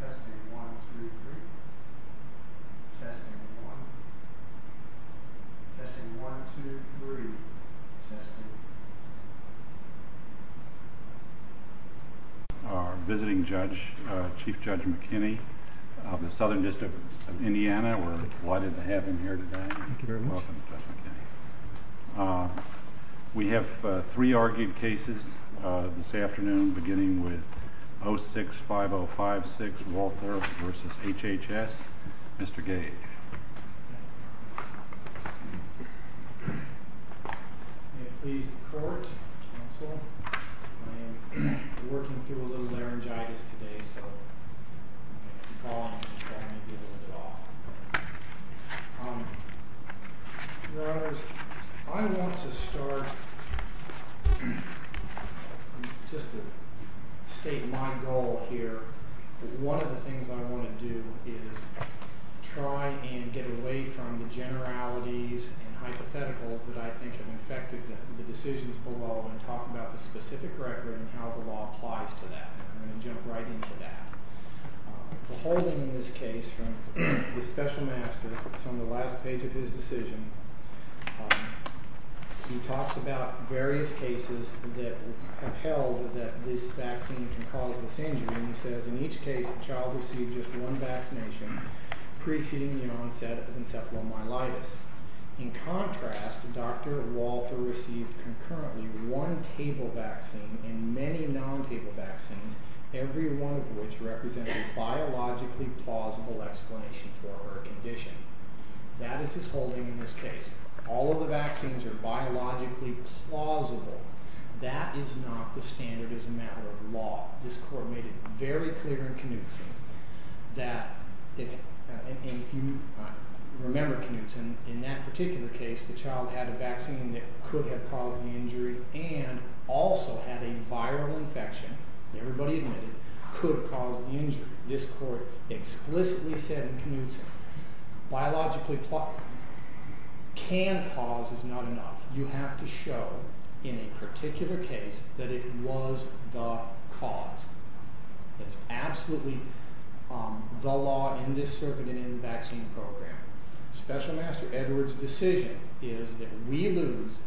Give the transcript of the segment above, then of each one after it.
Testing 1, 2, 3. Testing 1. Testing 1, 2, 3. Testing. Our visiting judge, Chief Judge McKinney of the Southern District of Indiana. We're delighted to have him here today. Thank you very much. You're welcome, Judge McKinney. We have three argued cases this afternoon, beginning with 065056, Walther v. HHS. Mr. Gage. May it please the court, counsel. I am working through a little laryngitis today, so I may be a little bit off. Your Honors, I want to start just to state my goal here. One of the things I want to do is try and get away from the generalities and hypotheticals that I think have affected the decisions below and talk about the specific record and how the law applies to that. I'm going to jump right into that. The whole thing in this case from the special master, it's on the last page of his decision. He talks about various cases that have held that this vaccine can cause this injury, and he says in each case, the child received just one vaccination preceding the onset of encephalomyelitis. In contrast, Dr. Walther received concurrently one table vaccine and many non-table vaccines, every one of which represented a biologically plausible explanation for a condition. That is his holding in this case. All of the vaccines are biologically plausible. That is not the standard as a matter of law. This court made it very clear in Knutson that, and if you remember Knutson, in that particular case, the child had a vaccine that could have caused the injury and also had a viral infection, everybody admitted, could have caused the injury. This court explicitly said in Knutson, biologically can cause is not enough. You have to show in a particular case that it was the cause. It's absolutely the law in this circuit and in the vaccine program. Special Master Edwards' decision is that we lose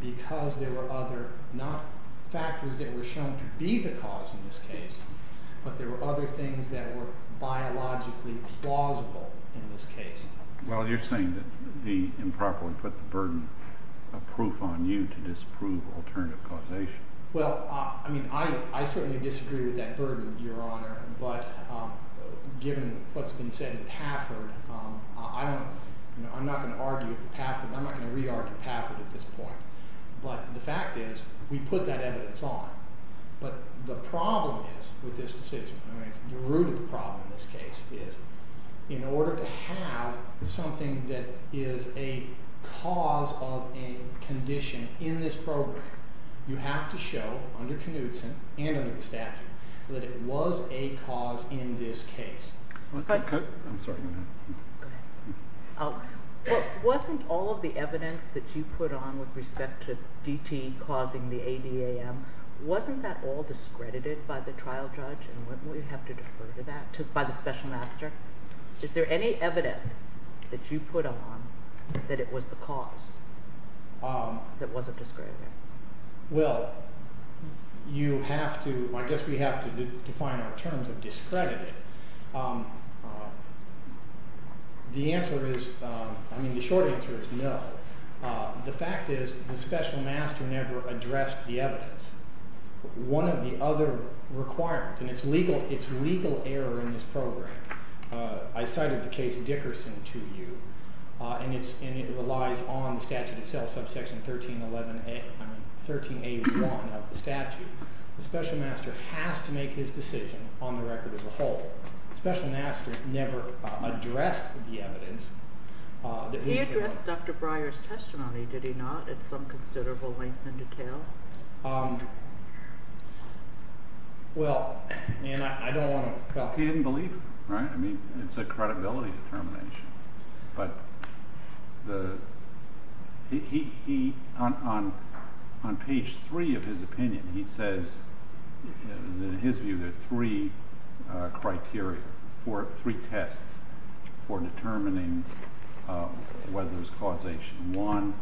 because there were other, not factors that were shown to be the cause in this case, but there were other things that were biologically plausible in this case. Well, you're saying that the improperly put the burden of proof on you to disprove alternative causation. Well, I mean, I certainly disagree with that burden, Your Honor, but given what's been said in Pafford, I'm not going to argue Pafford, I'm not going to re-argue Pafford at this point. But the fact is we put that evidence on, but the problem is with this decision, the root of the problem in this case is in order to have something that is a cause of a condition in this program, you have to show under Knutson and under the statute that it was a cause in this case. Wasn't all of the evidence that you put on with respect to DT causing the ADAM, wasn't that all discredited by the trial judge and wouldn't we have to defer to that, by the Special Master? Is there any evidence that you put on that it was the cause that wasn't discredited? Well, you have to, I guess we have to define our terms of discredited. The answer is, I mean the short answer is no. The fact is the Special Master never addressed the evidence. One of the other requirements, and it's legal error in this program, I cited the case Dickerson to you, and it relies on the statute itself, subsection 1381 of the statute. The Special Master has to make his decision on the record as a whole. The Special Master never addressed the evidence. He addressed Dr. Breyer's testimony, did he not, at some considerable length and detail? He didn't believe him, right? I mean, it's a credibility determination, but he, on page three of his opinion, he says, in his view, there are three criteria, three tests for determining whether it was causation. One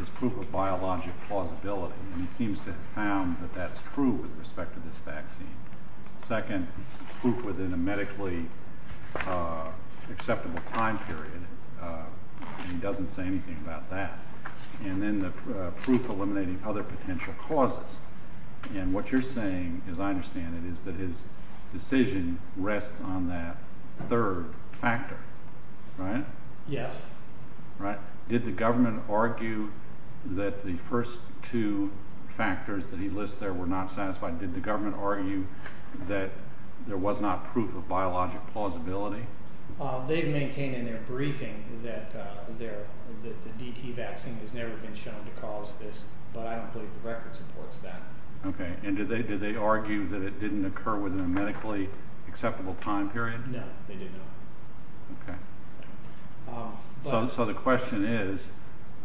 is proof of biologic plausibility, and he seems to have found that that's true with respect to this vaccine. Second, proof within a medically acceptable time period, and he doesn't say anything about that. And then the proof eliminating other potential causes, and what you're saying, as I understand it, is that his decision rests on that third factor, right? Yes. Right. Did the government argue that the first two factors that he lists there were not satisfied? Did the government argue that there was not proof of biologic plausibility? They've maintained in their briefing that the DT vaccine has never been shown to cause this, but I don't believe the record supports that. Okay, and did they argue that it didn't occur within a medically acceptable time period? No, they did not. Okay. So the question is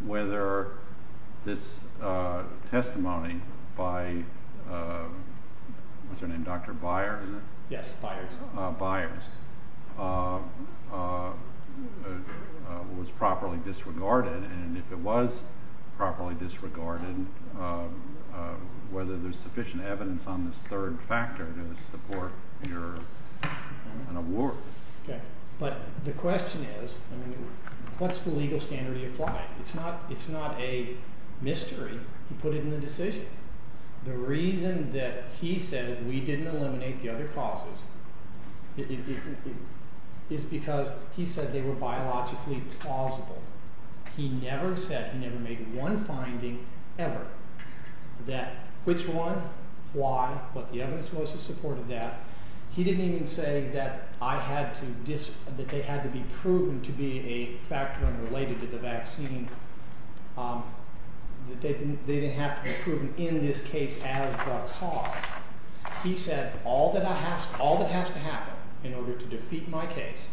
whether this testimony by, what's her name, Dr. Byers, is it? Yes, Byers. Byers, was properly disregarded, and if it was properly disregarded, whether there's sufficient evidence on this third factor to support an award. Okay, but the question is, what's the legal standard he applied? It's not a mystery. He put it in the decision. The reason that he says we didn't eliminate the other causes is because he said they were biologically plausible. He never said, he never made one finding ever that which one, why, what the evidence was to support that. He didn't even say that I had to, that they had to be proven to be a factor unrelated to the vaccine, that they didn't have to be proven in this case as the cause. He said all that has to happen in order to defeat my case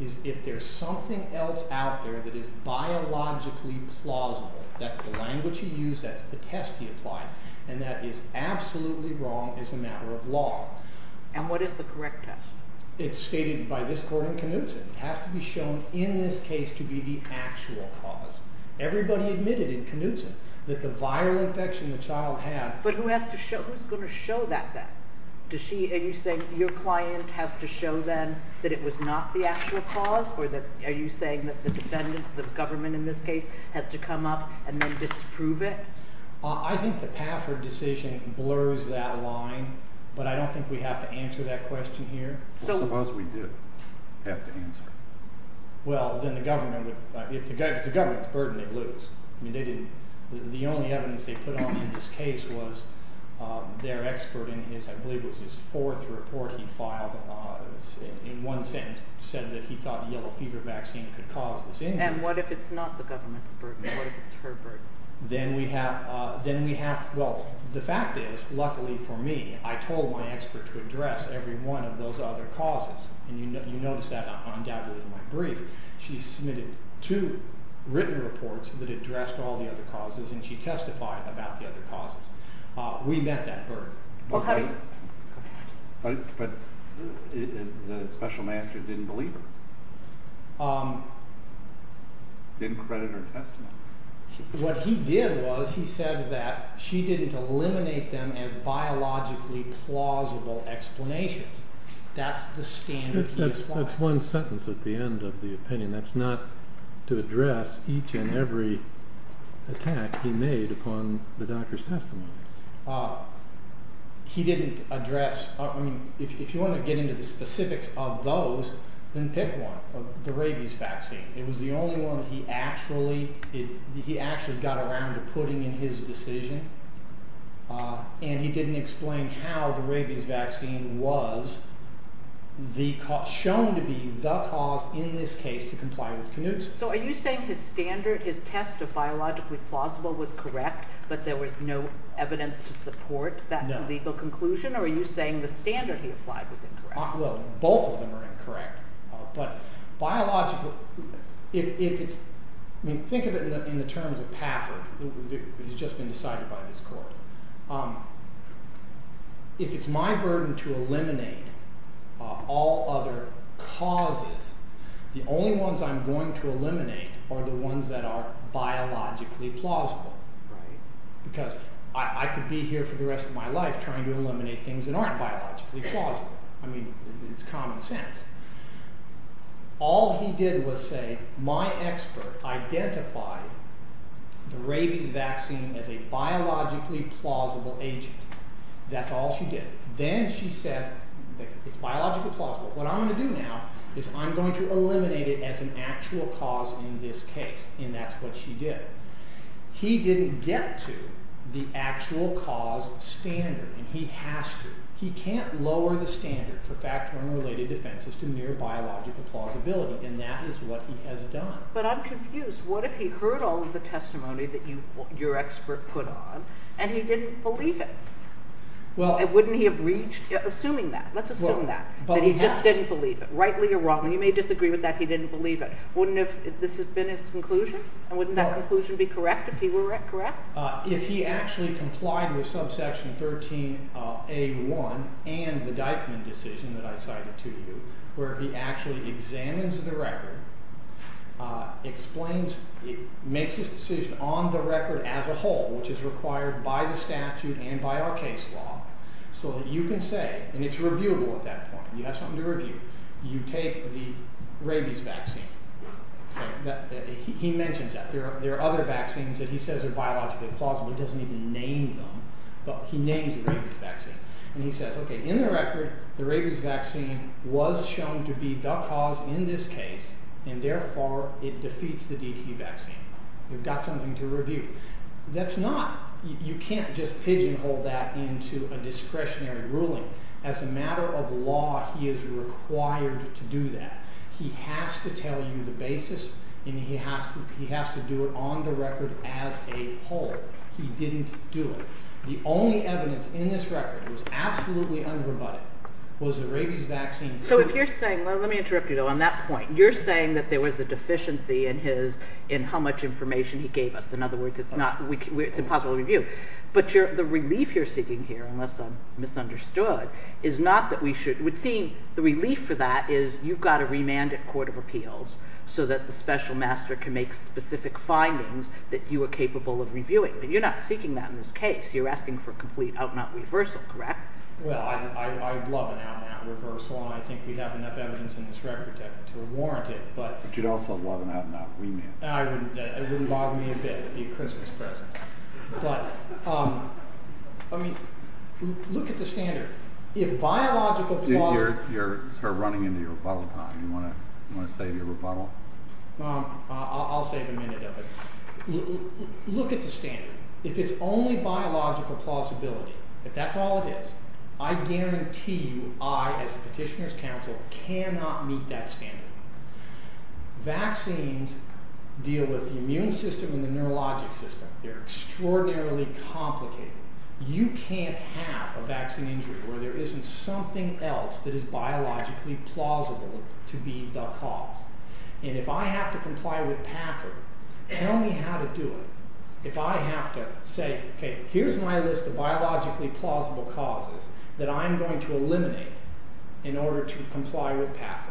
is if there's something else out there that is biologically plausible, that's the language he used, that's the test he applied, and that is absolutely wrong as a matter of law. And what is the correct test? It's stated by this court in Knutson. It has to be shown in this case to be the actual cause. Everybody admitted in Knutson that the viral infection the child had... But who has to show, who's going to show that then? Does she, are you saying your client has to show them that it was not the actual cause? Or are you saying that the defendant, the government in this case, has to come up and then disprove it? I think the Pafford decision blurs that line, but I don't think we have to answer that question here. Suppose we do have to answer. Well, then the government, if the government is burdened, they lose. The only evidence they put on in this case was their expert in his, I believe it was his fourth report he filed, in one sentence said that he thought the yellow fever vaccine could cause this injury. And what if it's not the government's burden? What if it's her burden? Then we have, well, the fact is, luckily for me, I told my expert to address every one of those other causes. And you notice that undoubtedly in my brief. She submitted two written reports that addressed all the other causes and she testified about the other causes. We met that burden. But the special master didn't believe her. Didn't credit her testimony. What he did was he said that she didn't eliminate them as biologically plausible explanations. That's the standard he applied. That's one sentence at the end of the opinion. That's not to address each and every attack he made upon the doctor's testimony. He didn't address, I mean, if you want to get into the specifics of those, then pick one. It was the only one he actually got around to putting in his decision. And he didn't explain how the rabies vaccine was shown to be the cause in this case to comply with Knutson. So are you saying his standard, his test of biologically plausible was correct, but there was no evidence to support that legal conclusion? Or are you saying the standard he applied was incorrect? Well, both of them are incorrect. But biologically, if it's, I mean, think of it in the terms of Pafford. He's just been decided by this court. If it's my burden to eliminate all other causes, the only ones I'm going to eliminate are the ones that are biologically plausible. Because I could be here for the rest of my life trying to eliminate things that aren't biologically plausible. I mean, it's common sense. All he did was say, my expert identified the rabies vaccine as a biologically plausible agent. That's all she did. Then she said, it's biologically plausible. What I'm going to do now is I'm going to eliminate it as an actual cause in this case. And that's what she did. He didn't get to the actual cause standard, and he has to. He can't lower the standard for factoring related offenses to mere biological plausibility, and that is what he has done. But I'm confused. What if he heard all of the testimony that your expert put on and he didn't believe it? Wouldn't he have reached, assuming that, let's assume that, that he just didn't believe it? Rightly or wrongly, you may disagree with that, he didn't believe it. Wouldn't this have been his conclusion? And wouldn't that conclusion be correct if he were correct? If he actually complied with subsection 13A1 and the Dyckman decision that I cited to you, where he actually examines the record, makes his decision on the record as a whole, which is required by the statute and by our case law, so that you can say, and it's reviewable at that point, you have something to review, you take the rabies vaccine. He mentions that. There are other vaccines that he says are biologically plausible. He doesn't even name them, but he names the rabies vaccine. And he says, okay, in the record, the rabies vaccine was shown to be the cause in this case, and therefore it defeats the DT vaccine. You've got something to review. That's not, you can't just pigeonhole that into a discretionary ruling. As a matter of law, he is required to do that. He has to tell you the basis, and he has to do it on the record as a whole. He didn't do it. The only evidence in this record that was absolutely unrebutted was the rabies vaccine. So if you're saying, let me interrupt you on that point. You're saying that there was a deficiency in how much information he gave us. In other words, it's impossible to review. But the relief you're seeking here, unless I'm misunderstood, is not that we should, the relief for that is you've got a remanded court of appeals so that the special master can make specific findings that you are capable of reviewing. But you're not seeking that in this case. You're asking for a complete out-and-out reversal, correct? Well, I'd love an out-and-out reversal, and I think we have enough evidence in this record to warrant it. But you'd also love an out-and-out remand. It wouldn't bother me a bit. It would be a Christmas present. But, I mean, look at the standard. You're running into your rebuttal time. Do you want to save your rebuttal? I'll save a minute of it. Look at the standard. If it's only biological plausibility, if that's all it is, I guarantee you I, as a petitioner's counsel, cannot meet that standard. Vaccines deal with the immune system and the neurologic system. They're extraordinarily complicated. You can't have a vaccine injury where there isn't something else that is biologically plausible to be the cause. And if I have to comply with Paffert, tell me how to do it. If I have to say, okay, here's my list of biologically plausible causes that I'm going to eliminate in order to comply with Paffert,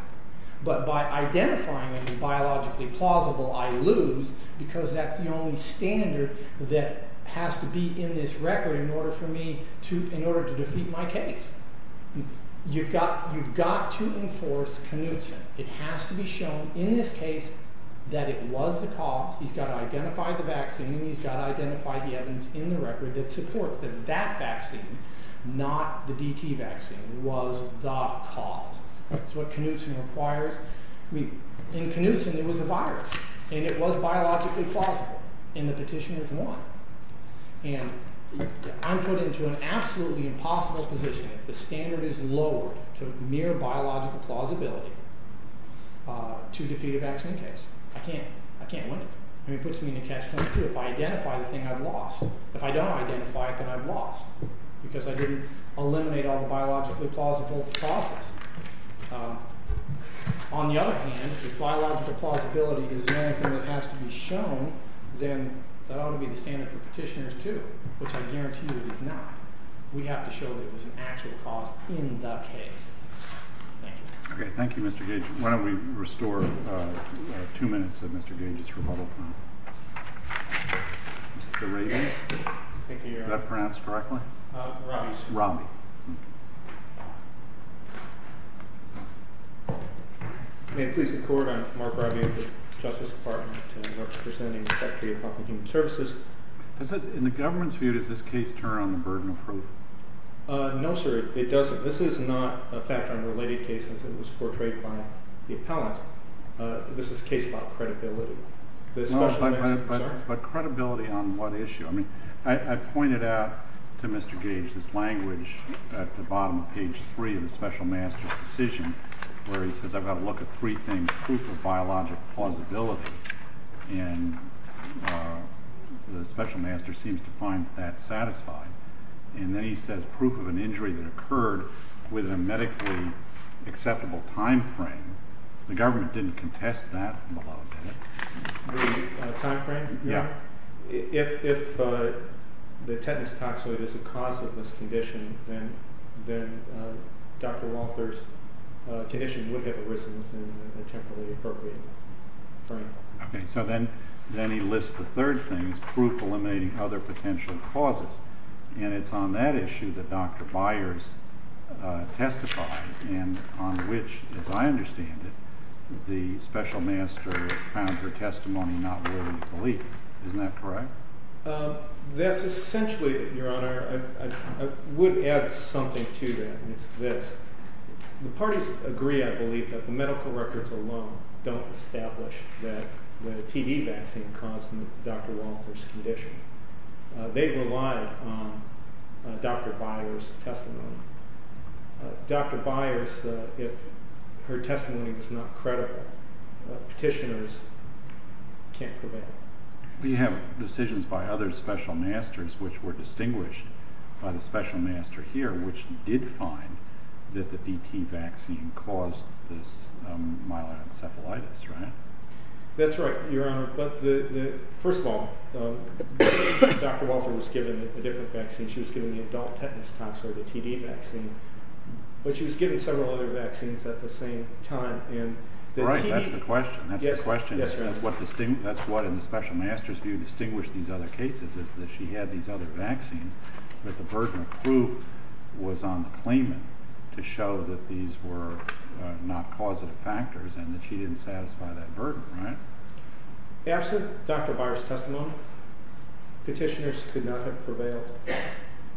but by identifying them as biologically plausible, I lose because that's the only standard that has to be in this record in order to defeat my case. You've got to enforce Knutson. It has to be shown in this case that it was the cause. He's got to identify the vaccine. He's got to identify the evidence in the record that supports that that vaccine, not the DT vaccine, was the cause. That's what Knutson requires. In Knutson, it was a virus, and it was biologically plausible, and the petitioners won. And I'm put into an absolutely impossible position. If the standard is lowered to mere biological plausibility to defeat a vaccine case, I can't win it. It puts me in a catch-22 if I identify the thing I've lost. If I don't identify it, then I've lost because I didn't eliminate all the biologically plausible causes. On the other hand, if biological plausibility is the only thing that has to be shown, then that ought to be the standard for petitioners too, which I guarantee you it is not. We have to show that it was an actual cause in that case. Thank you. Okay, thank you, Mr. Gage. Why don't we restore two minutes of Mr. Gage's rebuttal time. Mr. Reagan? Thank you, Your Honor. Did I pronounce correctly? Romney, sir. Romney. May it please the Court, I'm Mark Robbie of the Justice Department, and I'm representing the Secretary of Public and Human Services. In the government's view, does this case turn on the burden of proof? No, sir, it doesn't. This is not a fact unrelated case as it was portrayed by the appellant. This is a case about credibility. But credibility on what issue? I pointed out to Mr. Gage this language at the bottom of page 3 of the special master's decision where he says I've got to look at three things, proof of biologic plausibility, and the special master seems to find that satisfying. And then he says proof of an injury that occurred within a medically acceptable time frame. The government didn't contest that. Time frame? Yeah. If the tetanus toxoid is a cause of this condition, then Dr. Walther's condition would have arisen within a temporally appropriate frame. Okay, so then he lists the third thing as proof eliminating other potential causes, and it's on that issue that Dr. Byers testified, and on which, as I understand it, the special master found her testimony not worthy of belief. Isn't that correct? That's essentially it, Your Honor. I would add something to that, and it's this. The parties agree, I believe, that the medical records alone don't establish that the TB vaccine caused Dr. Walther's condition. They relied on Dr. Byers' testimony. Dr. Byers, if her testimony was not credible, petitioners can't prevail. We have decisions by other special masters which were distinguished by the special master here, which did find that the PT vaccine caused this myeloid encephalitis, right? That's right, Your Honor. First of all, Dr. Walther was given a different vaccine. She was given the adult tetanus tox or the TD vaccine, but she was given several other vaccines at the same time. Right, that's the question. That's what in the special master's view distinguished these other cases, is that she had these other vaccines, but the burden of proof was on the claimant to show that these were not causative factors and that she didn't satisfy that burden, right? Absent Dr. Byers' testimony, petitioners could not have prevailed.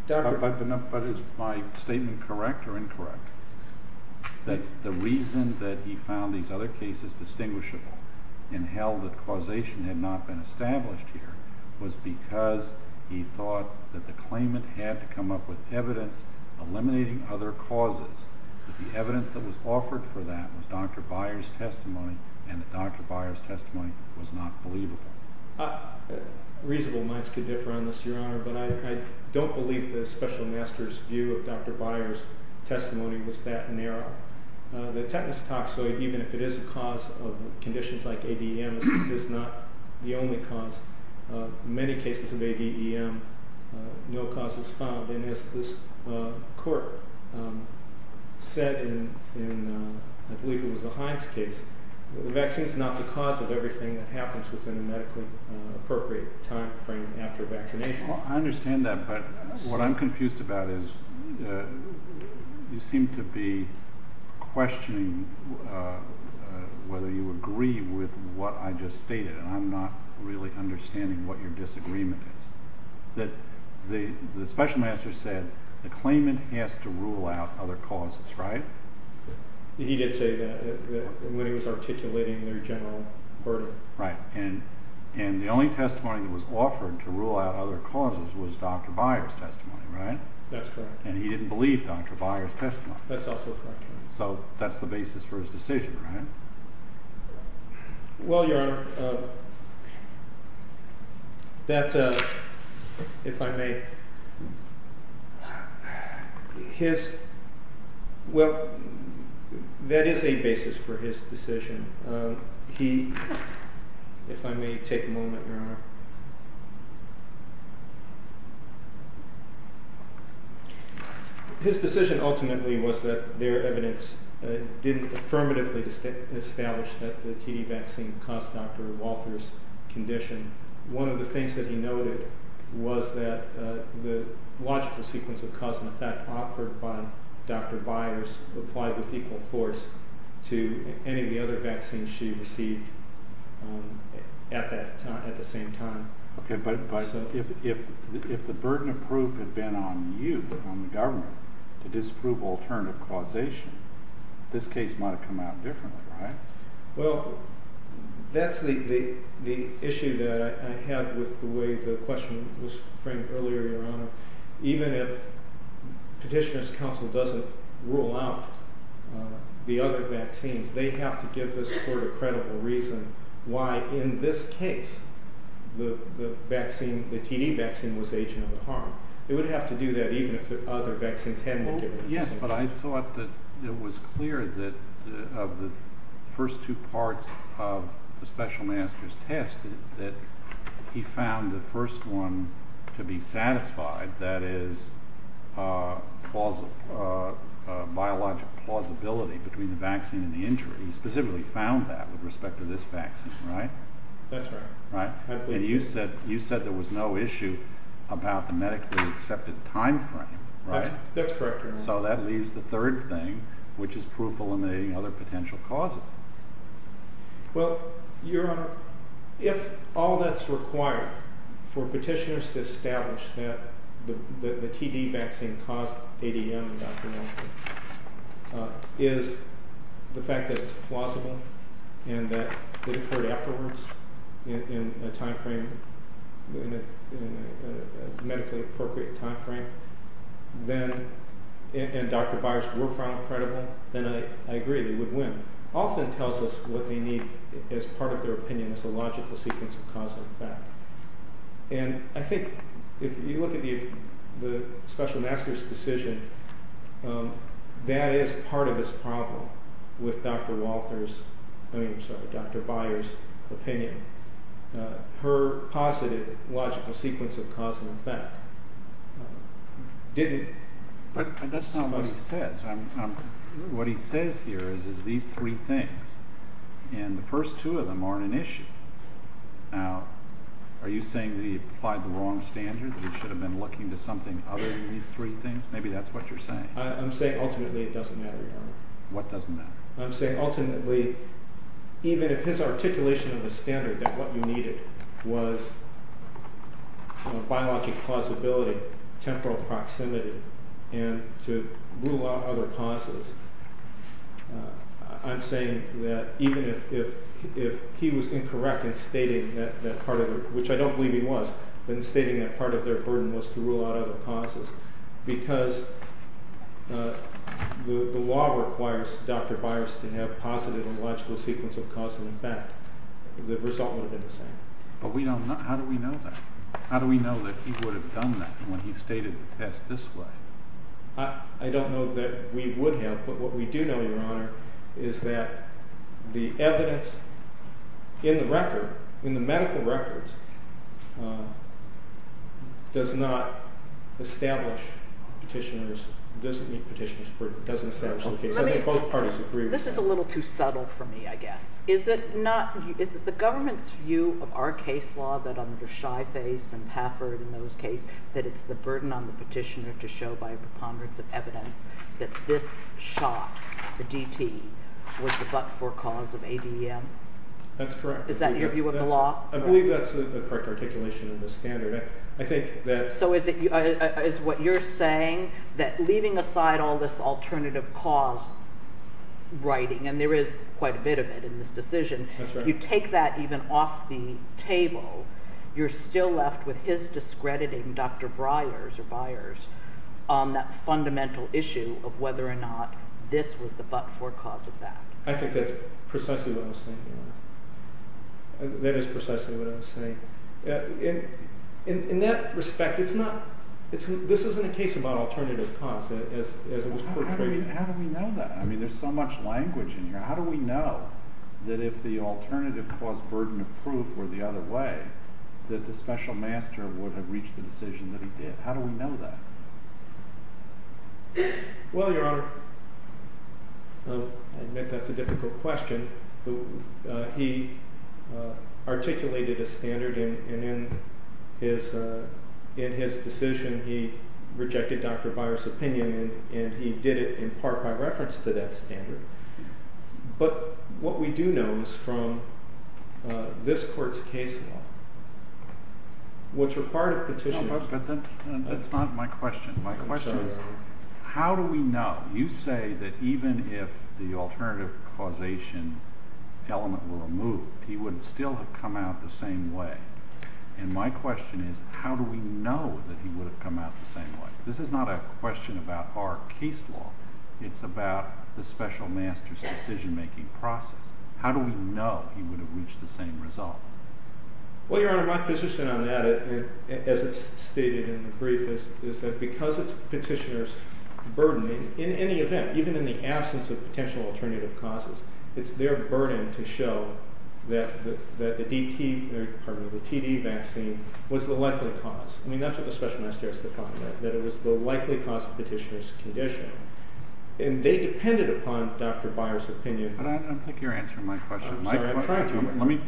But is my statement correct or incorrect, that the reason that he found these other cases distinguishable and held that causation had not been established here was because he thought that the claimant had to come up with evidence eliminating other causes, that the evidence that was offered for that was Dr. Byers' testimony and that Dr. Byers' testimony was not believable? Reasonable minds could differ on this, Your Honor, but I don't believe the special master's view of Dr. Byers' testimony was that narrow. The tetanus toxoid, even if it is a cause of conditions like ADEM, is not the only cause. In many cases of ADEM, no cause is found. And as this court said in, I believe it was a Hines case, the vaccine is not the cause of everything that happens within a medically appropriate time frame after vaccination. Well, I understand that, but what I'm confused about is you seem to be questioning whether you agree with what I just stated, and I'm not really understanding what your disagreement is. The special master said the claimant has to rule out other causes, right? He did say that when he was articulating their general verdict. Right, and the only testimony that was offered to rule out other causes was Dr. Byers' testimony, right? That's correct. And he didn't believe Dr. Byers' testimony. That's also correct. So that's the basis for his decision, right? Well, Your Honor, that, if I may, his—well, that is a basis for his decision. He—if I may take a moment, Your Honor. His decision ultimately was that their evidence didn't affirmatively establish that the TD vaccine caused Dr. Walther's condition. One of the things that he noted was that the logical sequence of cause and effect offered by Dr. Byers applied with equal force to any of the other vaccines she received at the same time. Okay, but if the burden of proof had been on you, on the government, to disprove alternative causation, this case might have come out differently, right? Well, that's the issue that I had with the way the question was framed earlier, Your Honor. Even if Petitioner's Counsel doesn't rule out the other vaccines, they have to give this court a credible reason why, in this case, the vaccine, the TD vaccine, was the agent of the harm. They would have to do that even if the other vaccines hadn't been given. Well, yes, but I thought that it was clear that of the first two parts of the special master's test that he found the first one to be satisfied, that is, biological plausibility between the vaccine and the injury. He specifically found that with respect to this vaccine, right? That's right. And you said there was no issue about the medically accepted time frame, right? That's correct, Your Honor. So that leaves the third thing, which is proof eliminating other potential causes. Well, Your Honor, if all that's required for petitioners to establish that the TD vaccine caused ADM in Dr. Monahan is the fact that it's plausible and that it occurred afterwards in a time frame, in a medically appropriate time frame, and Dr. Byers were found credible, then I agree they would win. But the fact that Dr. Monahan often tells us what they need as part of their opinion is a logical sequence of cause and effect. And I think if you look at the special master's decision, that is part of his problem with Dr. Byers' opinion. Her positive logical sequence of cause and effect didn't. But that's not what he says. What he says here is these three things, and the first two of them aren't an issue. Now, are you saying that he applied the wrong standard, that he should have been looking to something other than these three things? Maybe that's what you're saying. I'm saying ultimately it doesn't matter, Your Honor. What doesn't matter? I'm saying ultimately even if his articulation of the standard that what you needed was biologic plausibility, temporal proximity, and to rule out other causes, I'm saying that even if he was incorrect in stating that part of it, which I don't believe he was, then stating that part of their burden was to rule out other causes, because the law requires Dr. Byers to have positive and logical sequence of cause and effect. The result would have been the same. But we don't know. How do we know that? How do we know that he would have done that when he stated the test this way? I don't know that we would have, but what we do know, Your Honor, is that the evidence in the record, in the medical records, doesn't meet petitioner's burden, doesn't establish the case. I think both parties agree with that. This is a little too subtle for me, I guess. Is it not – is it the government's view of our case law that under Shyface and Hafford and those cases that it's the burden on the petitioner to show by a preponderance of evidence that this shot, the DT, was the but-for cause of ADM? That's correct. Is that your view of the law? I believe that's the correct articulation of the standard. So is it – is what you're saying that leaving aside all this alternative cause writing, and there is quite a bit of it in this decision, you take that even off the table, you're still left with his discrediting Dr. Brier's or Byers' on that fundamental issue of whether or not this was the but-for cause of that. I think that's precisely what I'm saying, Your Honor. That is precisely what I'm saying. In that respect, it's not – this isn't a case about alternative cause as it was portrayed. How do we know that? I mean, there's so much language in here. How do we know that if the alternative cause burden of proof were the other way, that the special master would have reached the decision that he did? How do we know that? Well, Your Honor, I admit that's a difficult question. He articulated a standard, and in his decision he rejected Dr. Brier's opinion, and he did it in part by reference to that standard. But what we do know is from this court's case law, what's required of petitioners – But that's not my question. My question is how do we know? You say that even if the alternative causation element were removed, he would still have come out the same way. And my question is how do we know that he would have come out the same way? This is not a question about our case law. It's about the special master's decision-making process. How do we know he would have reached the same result? Well, Your Honor, my position on that, as it's stated in the brief, is that because it's petitioner's burden, in any event, even in the absence of potential alternative causes, it's their burden to show that the TD vaccine was the likely cause. I mean, that's what the special master has to find out, that it was the likely cause of petitioner's condition. And they depended upon Dr. Brier's opinion. But I don't think you're answering my question. I'm sorry, I'm trying to.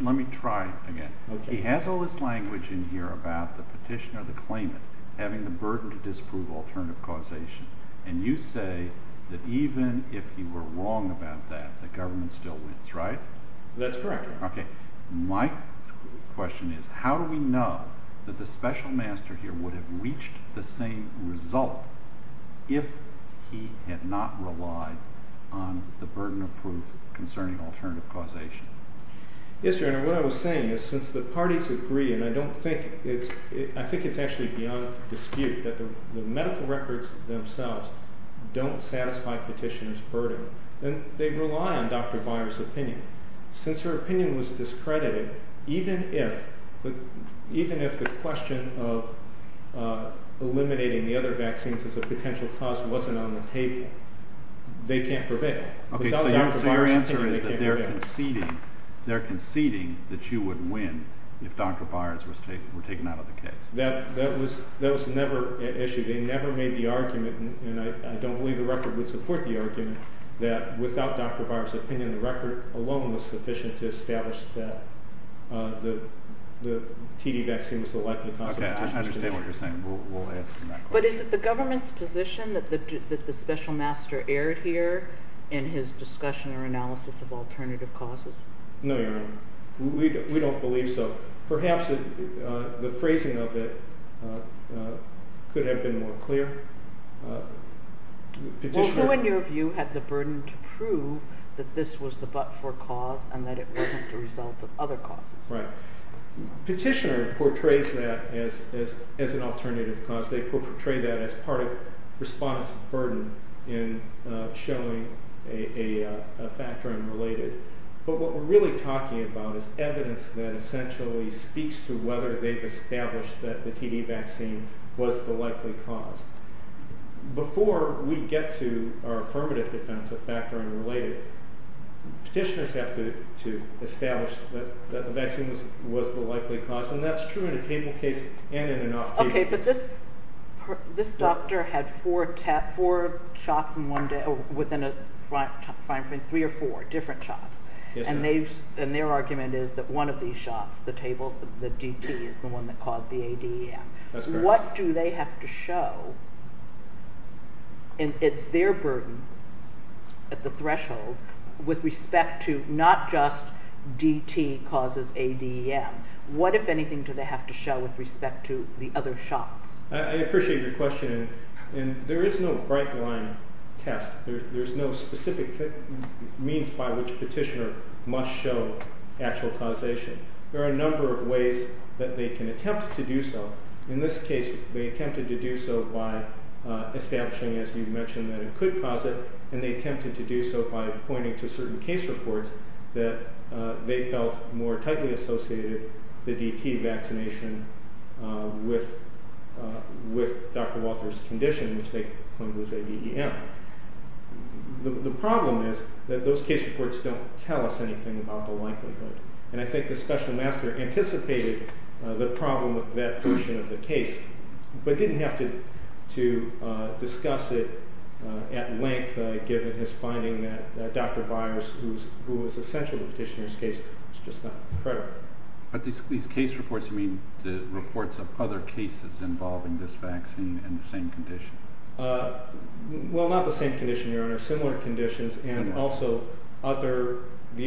Let me try it again. He has all this language in here about the petitioner, the claimant, having the burden to disprove alternative causation. And you say that even if he were wrong about that, the government still wins, right? That's correct. Okay. My question is how do we know that the special master here would have reached the same result if he had not relied on the burden of proof concerning alternative causation? Yes, Your Honor. What I was saying is since the parties agree, and I don't think it's – I think it's actually beyond dispute that the medical records themselves don't satisfy petitioner's burden, then they rely on Dr. Brier's opinion. Since her opinion was discredited, even if the question of eliminating the other vaccines as a potential cause wasn't on the table, they can't prevail. Okay, so your answer is that they're conceding that you would win if Dr. Brier's was taken out of the case. They never made the argument, and I don't believe the record would support the argument, that without Dr. Brier's opinion, the record alone was sufficient to establish that the TD vaccine was the likely cause of the petition. Okay, I understand what you're saying. We'll answer that question. But is it the government's position that the special master erred here in his discussion or analysis of alternative causes? No, Your Honor. We don't believe so. But perhaps the phrasing of it could have been more clear. Petitioner – Well, who in your view had the burden to prove that this was the but-for cause and that it wasn't the result of other causes? Right. Petitioner portrays that as an alternative cause. They portray that as part of respondents' burden in showing a factor unrelated. But what we're really talking about is evidence that essentially speaks to whether they've established that the TD vaccine was the likely cause. Before we get to our affirmative defense of factor unrelated, petitioners have to establish that the vaccine was the likely cause, and that's true in a table case and in an off-table case. This doctor had four shots within a time frame, three or four different shots. And their argument is that one of these shots, the table, the DT, is the one that caused the ADEM. What do they have to show? And it's their burden at the threshold with respect to not just DT causes ADEM. What, if anything, do they have to show with respect to the other shots? I appreciate your question, and there is no bright-line test. There's no specific means by which petitioner must show actual causation. There are a number of ways that they can attempt to do so. In this case, they attempted to do so by establishing, as you mentioned, that it could cause it, and they attempted to do so by pointing to certain case reports that they felt more tightly associated the DT vaccination with Dr. Walter's condition, which they claimed was ADEM. The problem is that those case reports don't tell us anything about the likelihood. And I think the special master anticipated the problem with that portion of the case, but didn't have to discuss it at length, given his finding that Dr. Byers, who was essential to the petitioner's case, was just not credible. But these case reports, you mean the reports of other cases involving this vaccine and the same condition? Well, not the same condition, Your Honor. Similar conditions, and also the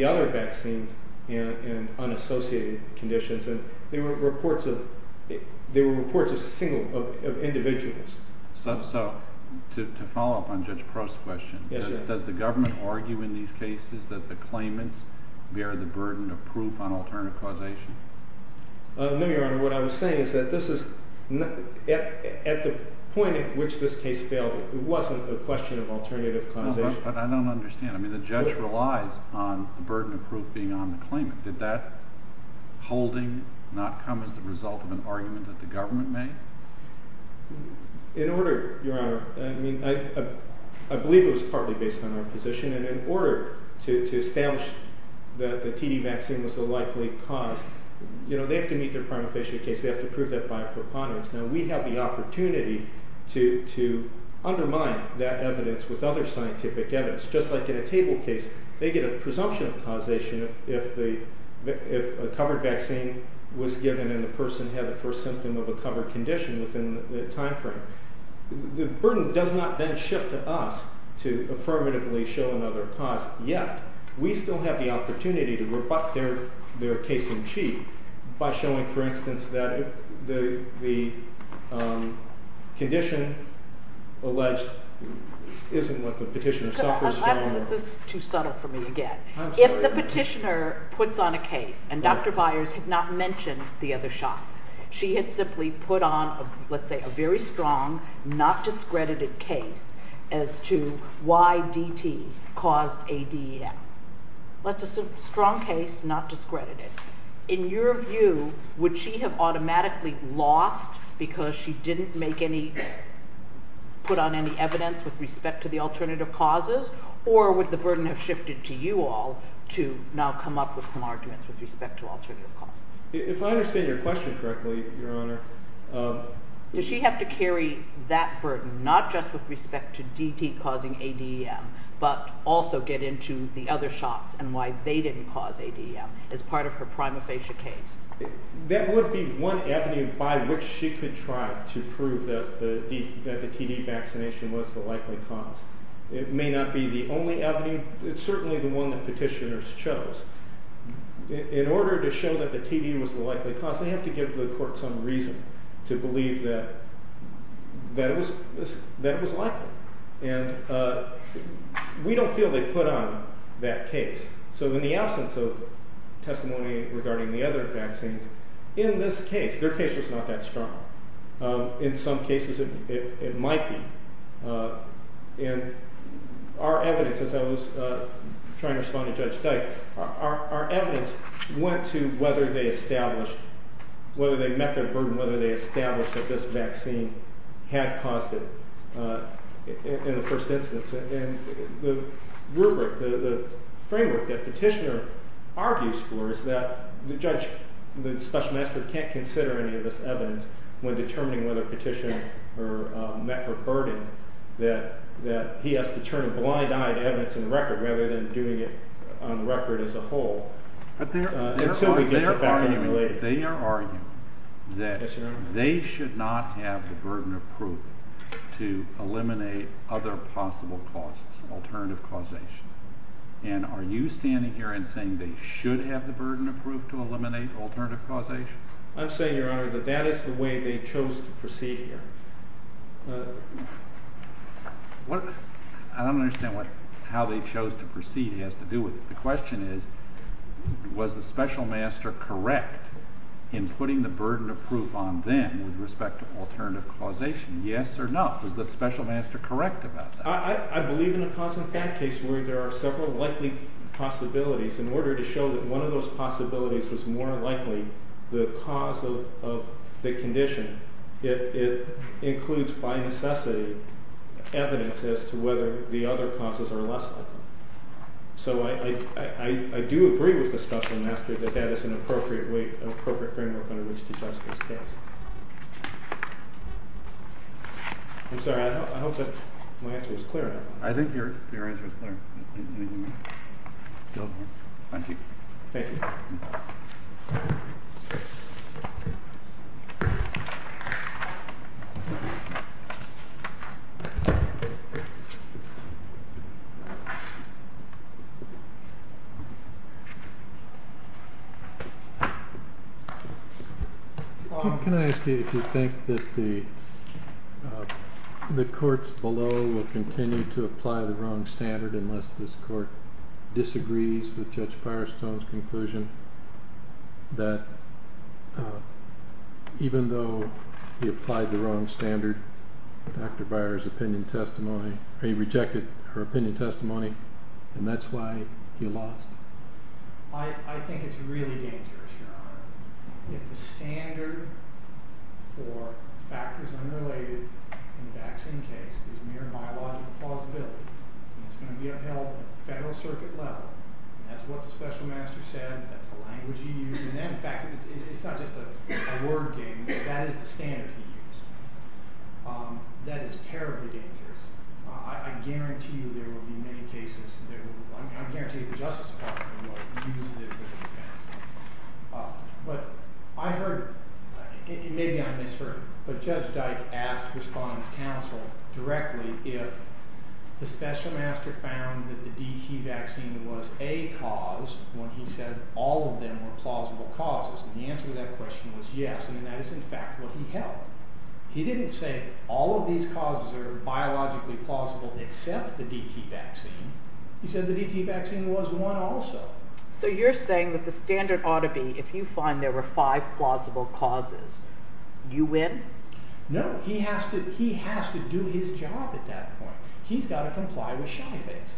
other vaccines in unassociated conditions. They were reports of individuals. So, to follow up on Judge Prost's question, does the government argue in these cases that the claimants bear the burden of proof on alternative causation? No, Your Honor. What I was saying is that at the point at which this case failed, it wasn't a question of alternative causation. But I don't understand. I mean, the judge relies on the burden of proof being on the claimant. Did that holding not come as the result of an argument that the government made? In order, Your Honor, I mean, I believe it was partly based on our position. And in order to establish that the TD vaccine was the likely cause, you know, they have to meet their prime official case. They have to prove that by a preponderance. Now, we have the opportunity to undermine that evidence with other scientific evidence. Just like in a table case, they get a presumption of causation if a covered vaccine was given and the person had the first symptom of a covered condition within the time frame. The burden does not then shift to us to affirmatively show another cause. Yet, we still have the opportunity to rebut their case in chief by showing, for instance, that the condition alleged isn't what the petitioner suffers from. This is too subtle for me again. If the petitioner puts on a case and Dr. Byers had not mentioned the other shots, she had simply put on, let's say, a very strong, not discredited case as to why DT caused ADEM. That's a strong case, not discredited. In your view, would she have automatically lost because she didn't make any, put on any evidence with respect to the alternative causes? Or would the burden have shifted to you all to now come up with some arguments with respect to alternative causes? If I understand your question correctly, Your Honor… Does she have to carry that burden, not just with respect to DT causing ADEM, but also get into the other shots and why they didn't cause ADEM as part of her prima facie case? That would be one avenue by which she could try to prove that the TD vaccination was the likely cause. It may not be the only avenue. It's certainly the one that petitioners chose. In order to show that the TD was the likely cause, they have to give the court some reason to believe that it was likely. And we don't feel they put on that case. So in the absence of testimony regarding the other vaccines, in this case, their case was not that strong. In some cases, it might be. And our evidence, as I was trying to respond to Judge Dyke, our evidence went to whether they established, whether they met their burden, whether they established that this vaccine had caused it in the first instance. And the rubric, the framework that petitioner argues for is that the judge, the special magistrate, can't consider any of this evidence when determining whether petitioner met her burden, that he has to turn a blind eye to evidence in the record rather than doing it on the record as a whole. They are arguing that they should not have the burden of proof to eliminate other possible causes, alternative causation. And are you standing here and saying they should have the burden of proof to eliminate alternative causation? I'm saying, Your Honor, that that is the way they chose to proceed here. I don't understand how they chose to proceed has to do with it. The question is, was the special master correct in putting the burden of proof on them with respect to alternative causation? Yes or no? Was the special master correct about that? I believe in a cause-and-effect case where there are several likely possibilities. In order to show that one of those possibilities is more likely the cause of the condition, it includes, by necessity, evidence as to whether the other causes are less likely. So I do agree with the special master that that is an appropriate framework under which to judge this case. I'm sorry, I hope that my answer was clear enough. I think your answer was clear. Thank you. Thank you. Can I ask you if you think that the courts below will continue to apply the wrong standard unless this court disagrees with Judge Firestone's conclusion that even though he applied the wrong standard, Dr. Byer's opinion testimony, or he rejected her opinion testimony, and that's why he lost? I think it's really dangerous, Your Honor. If the standard for factors unrelated in the vaccine case is mere biological plausibility, and it's going to be upheld at the federal circuit level, and that's what the special master said, and that's the language he used, and in fact, it's not just a word game, but that is the standard he used, that is terribly dangerous. I guarantee you there will be many cases. I guarantee you the Justice Department will use this as a defense. But I heard, maybe I misheard, but Judge Dyke asked respondents' counsel directly if the special master found that the DT vaccine was a cause when he said all of them were plausible causes. And the answer to that question was yes, and that is in fact what he held. He didn't say all of these causes are biologically plausible except the DT vaccine. He said the DT vaccine was one also. So you're saying that the standard ought to be if you find there were five plausible causes, you win? No, he has to do his job at that point. He's got to comply with shy face.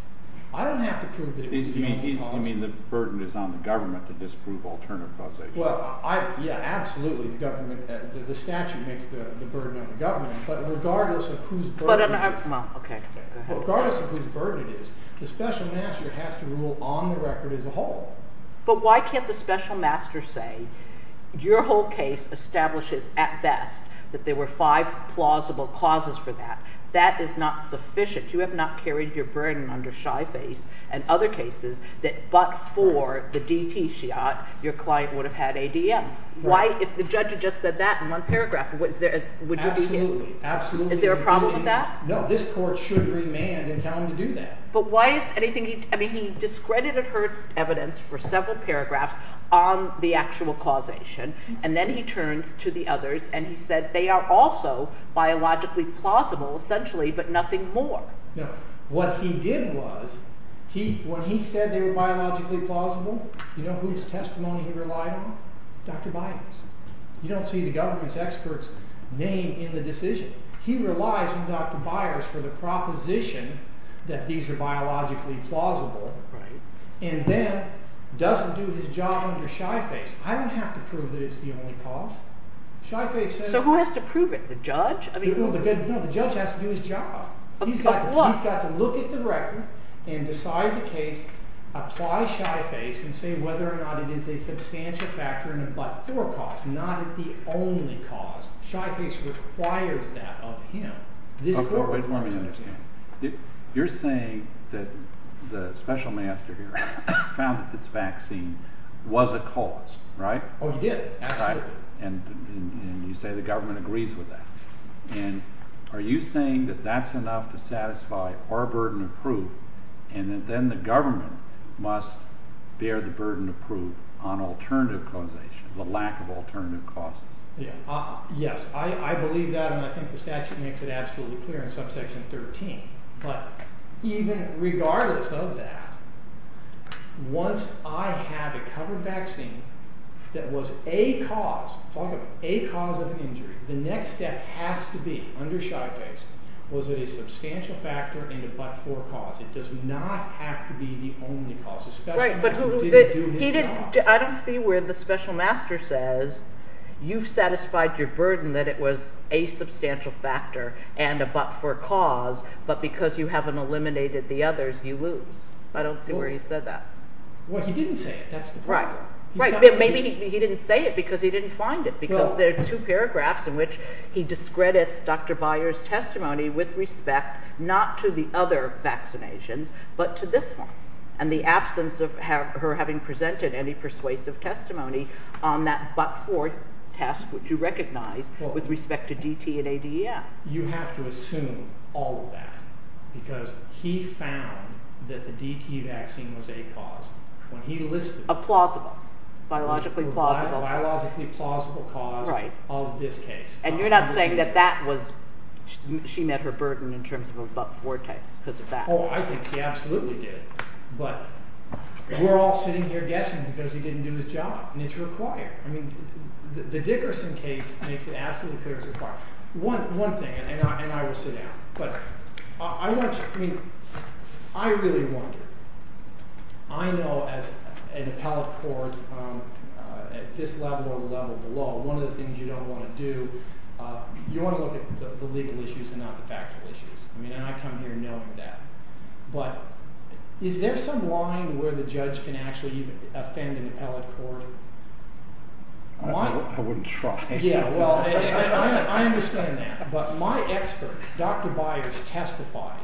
I don't have to prove that it was the only cause. You mean the burden is on the government to disprove alternative causation? Well, yeah, absolutely, the statute makes the burden on the government. But regardless of whose burden it is, the special master has to rule on the record as a whole. But why can't the special master say your whole case establishes at best that there were five plausible causes for that? That is not sufficient. You have not carried your burden under shy face and other cases that but for the DT shot, your client would have had ADM. If the judge had just said that in one paragraph, would you be happy? Absolutely. Is there a problem with that? No, this court should remand and tell him to do that. But why is anything – I mean he discredited her evidence for several paragraphs on the actual causation, and then he turns to the others and he said they are also biologically plausible, essentially, but nothing more. No, what he did was, when he said they were biologically plausible, you know whose testimony he relied on? Dr. Byers. You don't see the government's experts name in the decision. He relies on Dr. Byers for the proposition that these are biologically plausible, and then doesn't do his job under shy face. I don't have to prove that it's the only cause. Shy face says – So who has to prove it? The judge? No, the judge has to do his job. He's got to look at the record and decide the case, apply shy face, and say whether or not it is a substantial factor in a but for cause, not the only cause. Shy face requires that of him. You're saying that the special master here found that this vaccine was a cause, right? Oh, he did, absolutely. And you say the government agrees with that. And are you saying that that's enough to satisfy our burden of proof, and then the government must bear the burden of proof on alternative causation, the lack of alternative causes? Yes, I believe that, and I think the statute makes it absolutely clear in subsection 13. But even regardless of that, once I have a covered vaccine that was a cause, a cause of injury, the next step has to be, under shy face, was it a substantial factor in a but for cause. It does not have to be the only cause. Right, but he didn't, I don't see where the special master says, you've satisfied your burden that it was a substantial factor and a but for cause, but because you haven't eliminated the others, you lose. I don't see where he said that. Well, he didn't say it, that's the problem. Right, but maybe he didn't say it because he didn't find it, because there are two paragraphs in which he discredits Dr. Byers' testimony with respect, not to the other vaccinations, but to this one. And the absence of her having presented any persuasive testimony on that but for test, which you recognize, with respect to DT and ADEF. You have to assume all of that, because he found that the DT vaccine was a cause when he listed it. A plausible, biologically plausible. A biologically plausible cause of this case. And you're not saying that that was, she met her burden in terms of a but for test because of that. Oh, I think she absolutely did. But we're all sitting here guessing because he didn't do his job, and it's required. I mean, the Dickerson case makes it absolutely clear it's required. One thing, and I will sit down, but I want you, I mean, I really wonder. I know as an appellate court at this level or the level below, one of the things you don't want to do, you want to look at the legal issues and not the factual issues. I mean, and I come here knowing that. But is there some line where the judge can actually offend an appellate court? I wouldn't try. Yeah, well, I understand that. But my expert, Dr. Byers, testified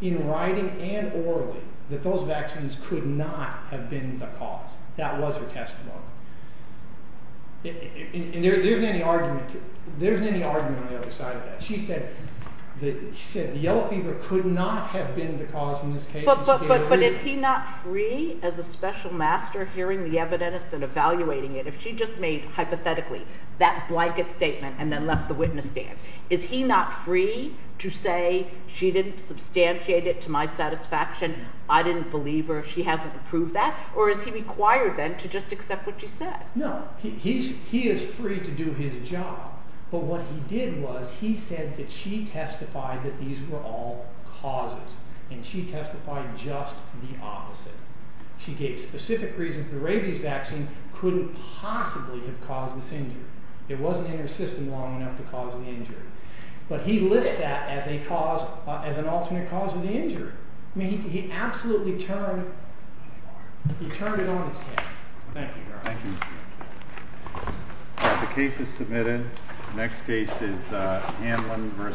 in writing and orally that those vaccines could not have been the cause. That was her testimony. And there isn't any argument on the other side of that. She said the yellow fever could not have been the cause in this case. But is he not free as a special master hearing the evidence and evaluating it? If she just made hypothetically that blanket statement and then left the witness stand, is he not free to say she didn't substantiate it to my satisfaction? I didn't believe her. She hasn't approved that. Or is he required then to just accept what she said? No, he is free to do his job. But what he did was he said that she testified that these were all causes, and she testified just the opposite. She gave specific reasons the rabies vaccine couldn't possibly have caused this injury. It wasn't in her system long enough to cause the injury. But he lists that as an alternate cause of the injury. I mean, he absolutely turned it on its head. Thank you, Your Honor. Thank you. The case is submitted. The next case is Hanlon v.